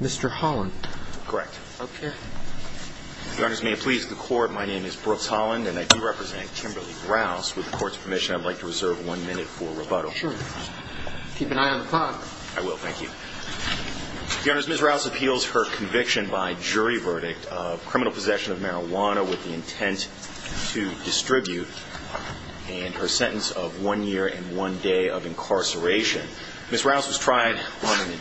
Mr. Holland correct okay the honors may it please the court my name is Brooks Holland and I do represent Kimberly Rouse with the court's permission I'd like to reserve one minute for rebuttal sure keep an eye on the clock I will thank you the honors miss Rouse appeals her conviction by jury verdict of criminal possession of marijuana with the intent to distribute and her sentence of one year and one day of incarceration miss Rouse was tried on an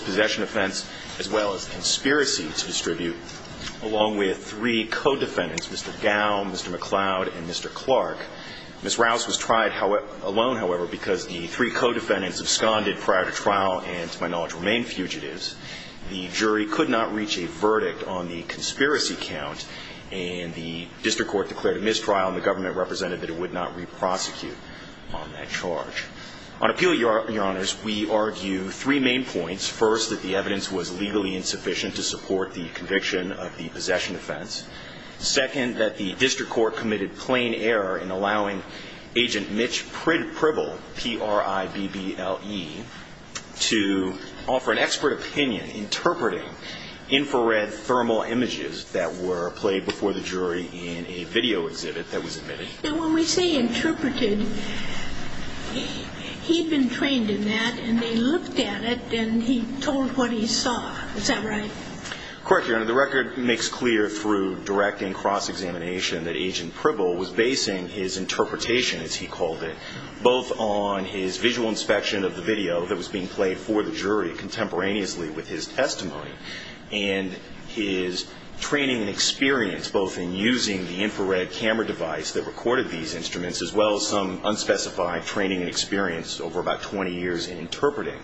possession offense as well as conspiracy to distribute along with three co-defendants mr. down mr. McLeod and mr. Clark miss Rouse was tried how it alone however because the three co-defendants absconded prior to trial and to my knowledge remain fugitives the jury could not reach a verdict on the conspiracy count and the district court declared a mistrial and the government represented that it would not reprosecute on that charge on appeal your your honors we argue three main points first that the evidence was legally insufficient to support the conviction of the possession offense second that the district court committed plain error in allowing agent Mitch pritt-pribble p-r-i-b-b-l-e to offer an expert opinion interpreting infrared thermal images that were played before the jury in a video exhibit that was trained in that and they looked at it and he told what he saw is that right correct your honor the record makes clear through direct and cross examination that agent pribble was basing his interpretation as he called it both on his visual inspection of the video that was being played for the jury contemporaneously with his testimony and his training and experience both in using the infrared camera device that recorded these instruments as well as unspecified training and experience over about 20 years in interpreting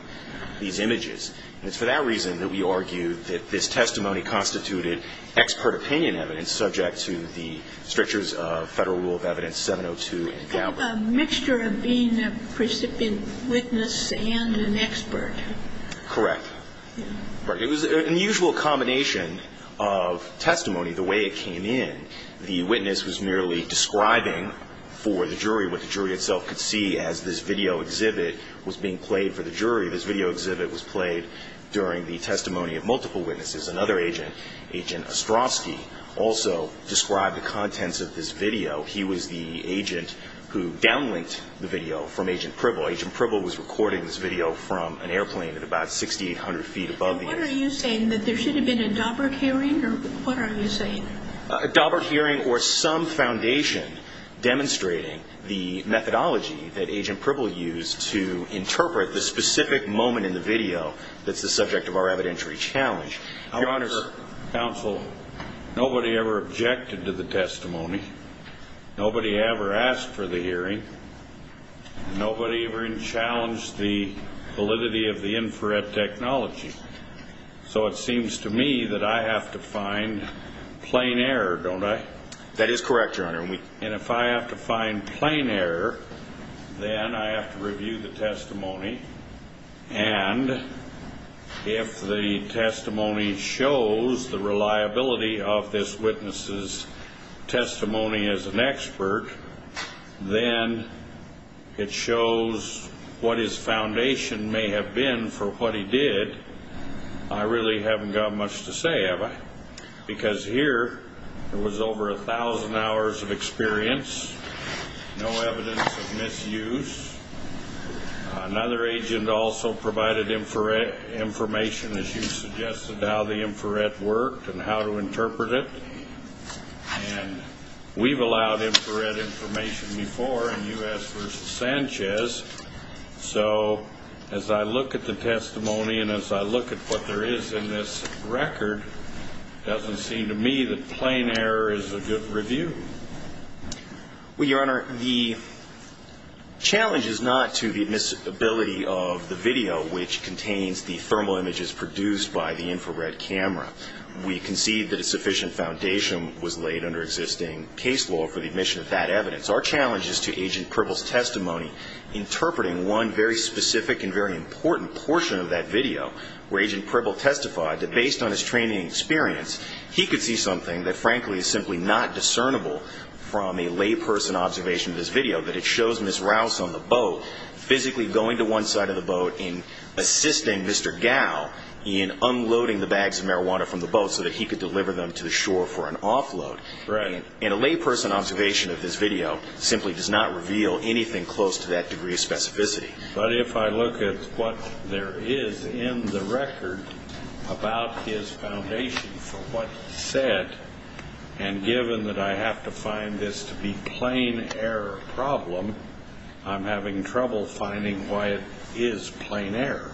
these images it's for that reason that we argue that this testimony constituted expert opinion evidence subject to the strictures of federal rule of evidence 702 a mixture of being a precipient witness and an expert correct but it was an unusual combination of testimony the way it came in the jury itself could see as this video exhibit was being played for the jury this video exhibit was played during the testimony of multiple witnesses another agent agent strawsky also describe the contents of this video he was the agent who downlinked the video from agent privilege approval was recording this video from an airplane at about 6800 feet above what are you saying that there should have been a doberk hearing or what are you saying a doberk hearing or some foundation demonstrating the methodology that agent purple used to interpret the specific moment in the video that's the subject of our evidentiary challenge I wonder counsel nobody ever objected to the testimony nobody ever asked for the hearing nobody ever in challenged the validity of the infrared technology so it seems to me that I have to find plain error don't I that is correct your honor and if I have to find plain error then I have to review the testimony and if the testimony shows the reliability of this witnesses testimony as an expert then it shows what his foundation may have been for what he did I really haven't got much to say ever because here it was over a thousand hours of experience no evidence of misuse another agent also provided infrared information as you suggested how the infrared worked and how to interpret it and we've allowed infrared information before and us versus Sanchez so as I look at the testimony and as I look at what there is record doesn't seem to me that plain error is a good review we are the challenges not to the ability of the video which contains the thermal images produced by the infrared camera we can see that a sufficient foundation was laid under existing case law for the admission of that evidence our challenges to agent purple's testimony interpreting one very specific and very important portion of that video where agent purple testified that based on his training experience he could see something that frankly is simply not discernible from a layperson observation of this video that it shows miss rouse on the boat physically going to one side of the boat in assisting mr. gal in unloading the bags of marijuana from the boat so that he could deliver them to shore for an offload right in a layperson observation of this video simply does not reveal anything close to that degree of specificity but if I look at what there is in the record about his foundation for what said and given that I have to find this to be plain error problem I'm having trouble finding why it is plain air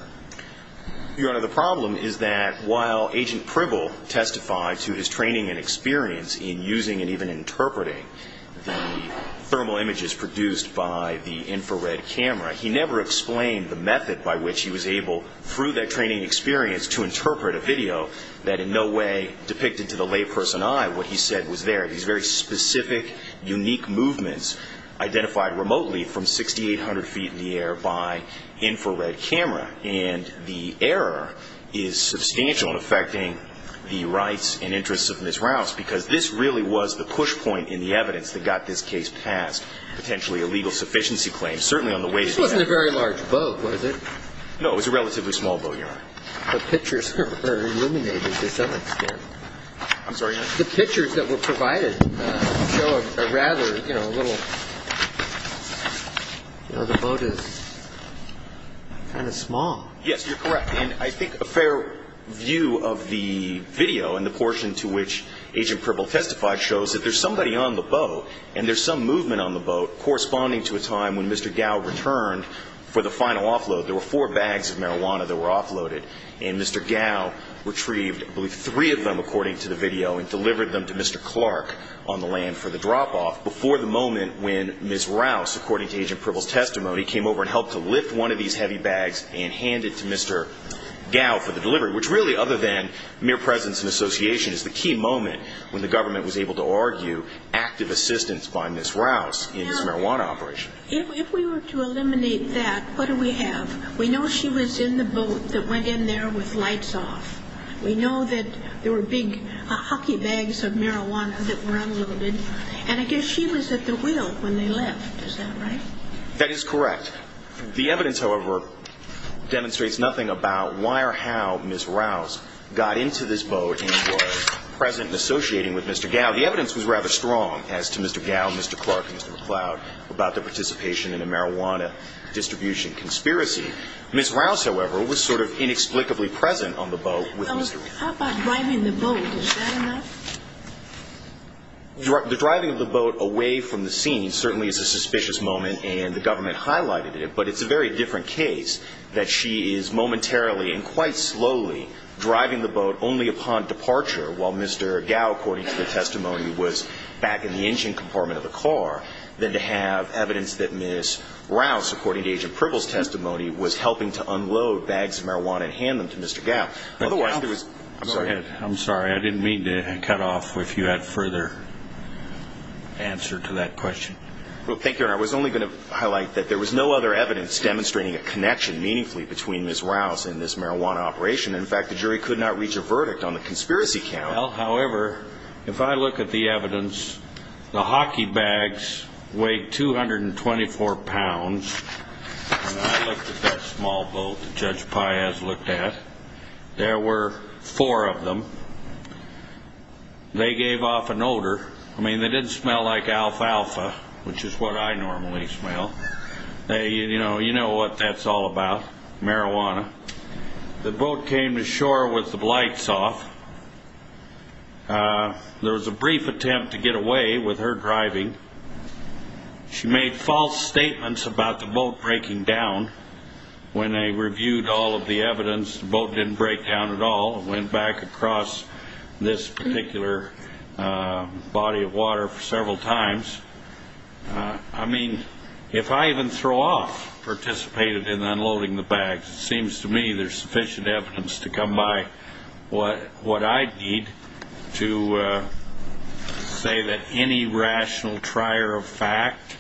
you are the problem is that while agent purple testify to his training and experience in using and even interpreting the thermal images produced by the infrared camera he never explained the method by which he was able through that training experience to interpret a video that in no way depicted to the layperson I what he said was there is very specific unique movements identified remotely from 6800 feet in the air by infrared camera and the error is substantial affecting the rights and interests of miss rouse because this really was the push point in the evidence that got this case passed potentially a legal sufficiency claim certainly on the way to a very large boat was it no it was a relatively small boat here the pictures are eliminated to some extent I'm sorry the pictures that were provided rather you know the boat is kind of small yes you're correct and I think a fair view of the video and the portion to which agent purple testified shows that there's somebody on the boat and there's some movement on the boat corresponding to a time when mr. gal returned for the final offload there were four bags of marijuana that were offloaded and mr. gal retrieved believe three of them according to the video and delivered them to mr. Clark on the land for the drop-off before the moment when miss rouse according to agent purple's testimony came over and helped to lift one of these heavy bags and hand it to mr. gal for the delivery which really other than mere presence and association is the key moment when the government was able to argue active assistance by miss rouse in his marijuana operation if we were to eliminate that what do we have we know she was in the boat that went in there with lights off we know that there were big hockey bags of marijuana that were unloaded and I guess she was at the wheel when they left is that right that is correct the evidence however demonstrates nothing about why or how miss rouse got into this boat present and associating with mr. gal the evidence was rather strong as to mr. gal mr. Clark mr. McLeod about the participation in a marijuana distribution conspiracy miss rouse however was sort of inexplicably present on the boat the driving of the boat away from the scene certainly is a suspicious moment and the government highlighted it but it's a very different case that she is departure while mr. gal according to the testimony was back in the engine compartment of the car then to have evidence that miss rouse according to agent Pribble's testimony was helping to unload bags of marijuana and hand them to mr. gal otherwise there was I'm sorry I'm sorry I didn't mean to cut off if you had further answer to that question well thank you I was only going to highlight that there was no other evidence demonstrating a connection meaningfully between miss rouse in this marijuana operation in fact the jury could not reach a verdict on the conspiracy count however if I look at the evidence the hockey bags weighed 224 pounds I looked at that small boat judge Piaz looked at there were four of them they gave off an odor I mean they didn't smell like alfalfa which is what I normally smell they you know you know what that's all about marijuana the boat came to shore with the blights off there was a brief attempt to get away with her driving she made false statements about the boat breaking down when they reviewed all of the evidence boat didn't break down at all went back across this particular body of water several times I mean if I even throw off participated in unloading the bags it seems to me there's sufficient evidence to come by what what I need to say that any rational trier of fact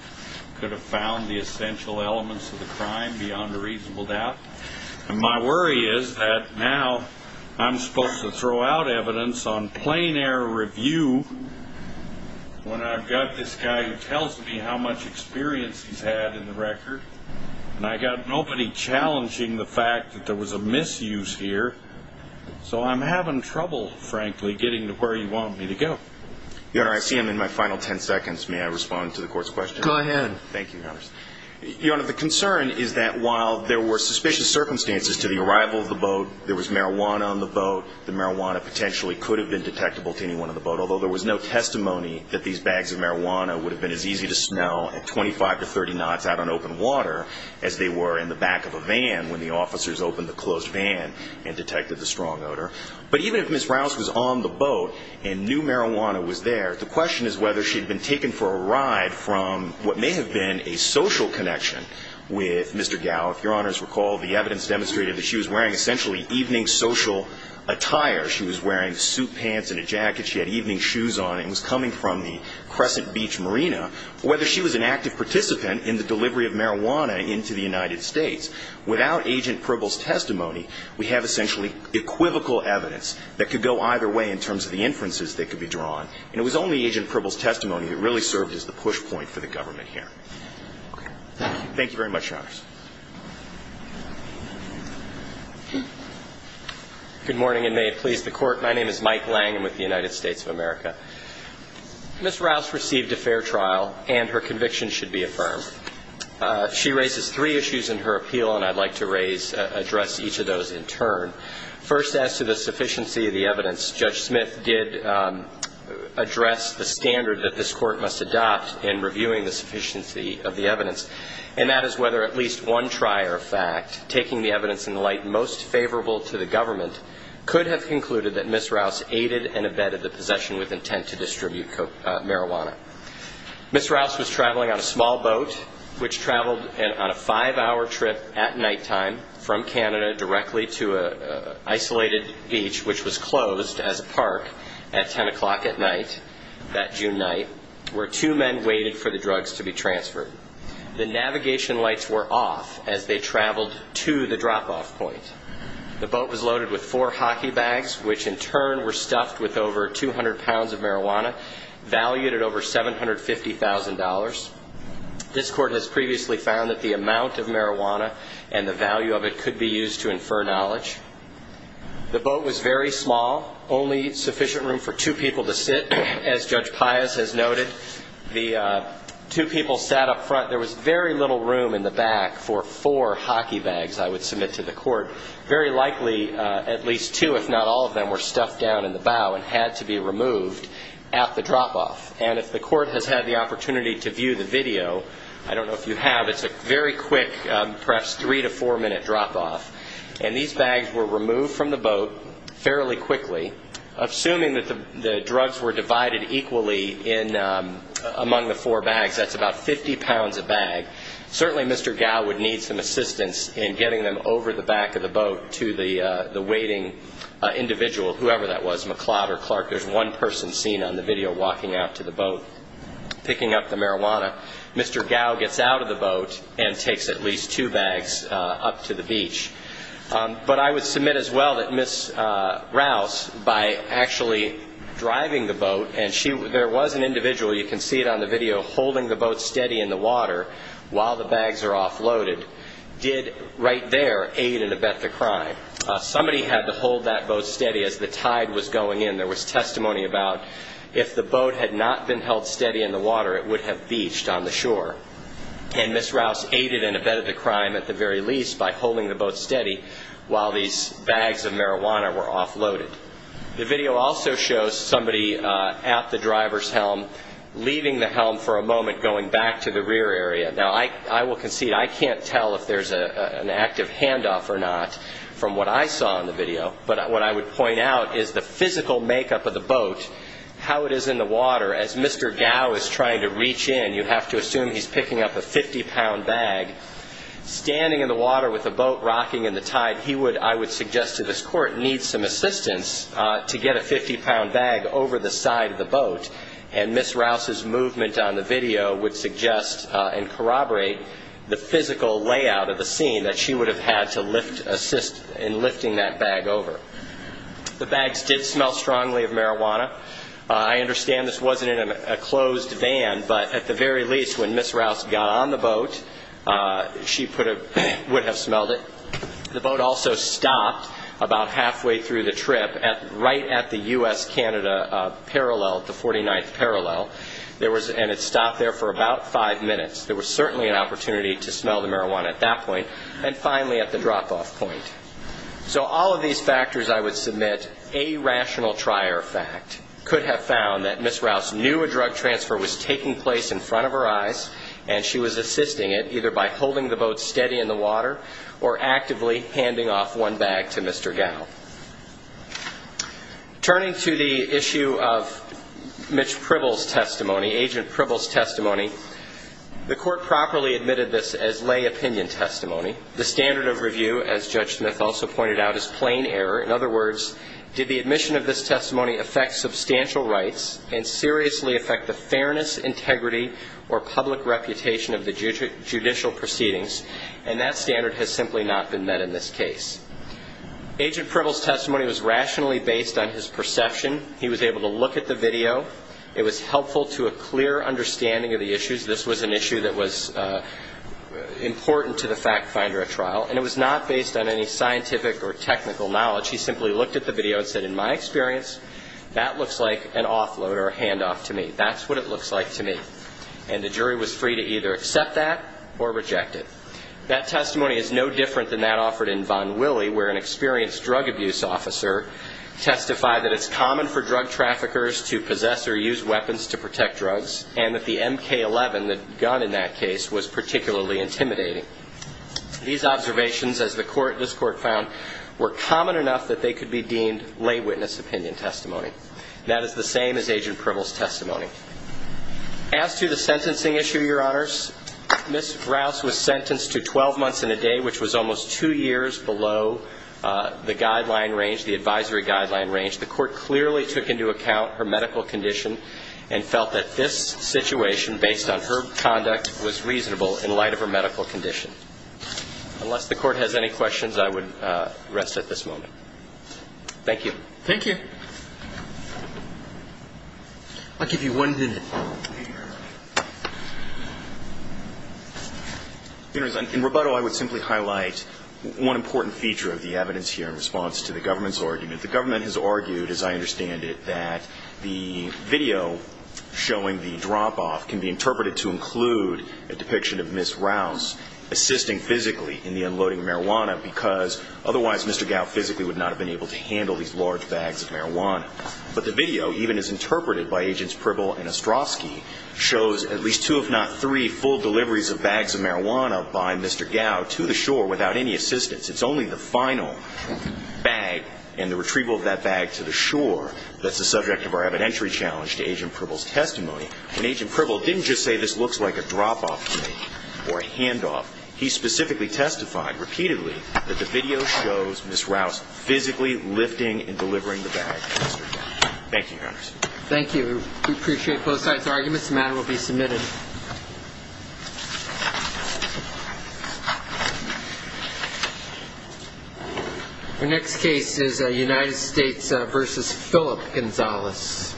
could have found the essential elements of the crime beyond a reasonable doubt and my worry is that now I'm supposed to plain air review when I've got this guy who tells me how much experience he's had in the record and I got nobody challenging the fact that there was a misuse here so I'm having trouble frankly getting to where you want me to go you know I see him in my final 10 seconds may I respond to the court's question go ahead thank you your honor the concern is that while there were suspicious circumstances to the arrival of the boat there was marijuana on the although there was no testimony that these bags of marijuana would have been as easy to snow at 25 to 30 knots out on open water as they were in the back of a van when the officers opened the closed van and detected the strong odor but even if Miss Rouse was on the boat in new marijuana was there the question is whether she'd been taken for a ride from what may have been a social connection with Mr. Gallifrey honors recall the evidence demonstrated that she was wearing essentially evening social attire she was wearing suit pants and a jacket she had evening shoes on and was coming from the Crescent Beach Marina whether she was an active participant in the delivery of marijuana into the United States without agent Pribble's testimony we have essentially equivocal evidence that could go either way in terms of the inferences that could be drawn and it was only agent Pribble's testimony that really served as the push point for the government here thank you very much good morning and may it please the court my name is Mike Lang and with the United States of America miss Rouse received a fair trial and her conviction should be affirmed she raises three issues in her appeal and I'd like to raise address each of those in turn first as to the sufficiency of the evidence judge Smith did address the standard that this court must adopt in whether at least one trier fact taking the evidence in the light most favorable to the government could have concluded that miss Rouse aided and abetted the possession with intent to distribute marijuana miss Rouse was traveling on a small boat which traveled and on a five-hour trip at nighttime from Canada directly to a isolated beach which was closed as a park at 10 o'clock at night that June night where two men waited for the drugs to be transferred the navigation lights were off as they traveled to the drop-off point the boat was loaded with four hockey bags which in turn were stuffed with over 200 pounds of marijuana valued at over seven hundred fifty thousand dollars this court has previously found that the amount of marijuana and the value of it could be used to infer knowledge the boat was very small only sufficient room for two people to sit as judge Pius has noted the two people sat up front there was very little room in the back for four hockey bags I would submit to the court very likely at least two if not all of them were stuffed down in the bow and had to be removed at the drop-off and if the court has had the opportunity to view the video I don't know if you have it's a very quick perhaps three to four minute drop-off and these bags were removed from the boat fairly quickly assuming that the drugs were divided equally in among the four bags that's about 50 pounds a bag certainly mr. Gow would need some assistance in getting them over the back of the boat to the the waiting individual whoever that was McLeod or Clark there's one person seen on the video walking out to the boat picking up the marijuana mr. Gow gets out of the boat and takes at least two bags up to the beach but I would submit as well that miss Rouse by actually driving the boat and she there was an individual you can see it on the video holding the boat steady in the water while the bags are offloaded did right there aid and abet the crime somebody had to hold that boat steady as the tide was going in there was testimony about if the boat had not been held steady in the water it would have beached on the shore and miss Rouse aided and abetted the crime at the very least by holding the boat steady while these bags of marijuana were offloaded the video also shows somebody at the driver's helm leaving the helm for a moment going back to the rear area now I will concede I can't tell if there's a an active handoff or not from what I saw in the video but what I would point out is the physical makeup of the boat how it is in the water as mr. Gow is trying to reach in you have to assume he's picking up a 50-pound bag standing in the water with a boat rocking in the tide he would I would suggest to this court need some assistance to get a 50-pound bag over the side of the boat and miss Rouse's movement on the video would suggest and corroborate the physical layout of the scene that she would have had to lift assist in lifting that bag over the bags did smell strongly of marijuana I understand this wasn't in a closed van but at the very least when miss Rouse got on the boat she put a would have smelled it the boat also stopped about there for about five minutes there was certainly an opportunity to smell the marijuana at that point and finally at the drop-off point so all of these factors I would submit a rational trier fact could have found that miss Rouse knew a drug transfer was taking place in front of her eyes and she was assisting it either by holding the boat steady in the water or actively handing off one bag to Mr. Gow. Turning to the issue of Mitch Pribble's testimony agent Pribble's testimony the court properly admitted this as lay opinion testimony the standard of review as Judge Smith also pointed out is plain error in other words did the admission of this testimony affect substantial rights and seriously affect the fairness integrity or public reputation of the judicial proceedings and that standard has simply not been met in this case. Agent Pribble's testimony was rationally based on his perception he was able to look at the video it was helpful to a clear understanding of the issues this was an issue that was important to the fact finder at trial and it was not based on any scientific or technical knowledge he simply looked at the video and said in my experience that looks like an offload or a handoff to me that's what it looks like to me and the jury was free to either accept that or reject it. That testimony is no different than that offered in Von Willey where an experienced drug abuse officer testified that it's common for drug traffickers to possess or use weapons to protect drugs and that the mk-11 that gun in that case was particularly intimidating. These observations as the court this court found were common enough that they could be deemed lay witness opinion testimony that is the same as agent Pribble's testimony. As to the sentencing issue your honors, Ms. Rouse was sentenced to 12 months in a day which was almost two years below the guideline range the advisory guideline range the court clearly took into account her medical condition and felt that this situation based on her conduct was reasonable in light of her medical condition. Unless the court has any questions I would rest at this moment. Thank you. Thank you. I'll give you one minute. In rebuttal I would simply highlight one important feature of the evidence here in response to the government's argument. The government has argued as I understand it that the video showing the drop-off can be interpreted to include a depiction of Ms. Rouse assisting physically in the loading of marijuana because otherwise Mr. Gow physically would not have been able to handle these large bags of marijuana. But the video even is interpreted by agents Pribble and Ostrovsky shows at least two if not three full deliveries of bags of marijuana by Mr. Gow to the shore without any assistance. It's only the final bag and the retrieval of that bag to the shore that's the subject of our evidentiary challenge to agent Pribble's testimony. And agent Pribble didn't just say this looks like a drop-off or a handoff. He specifically testified repeatedly that the video shows Ms. Rouse physically lifting and delivering the bag to Mr. Gow. Thank you. Thank you. We appreciate both sides' arguments. The matter will be submitted. Our next case is a United States versus Philip Gonzalez.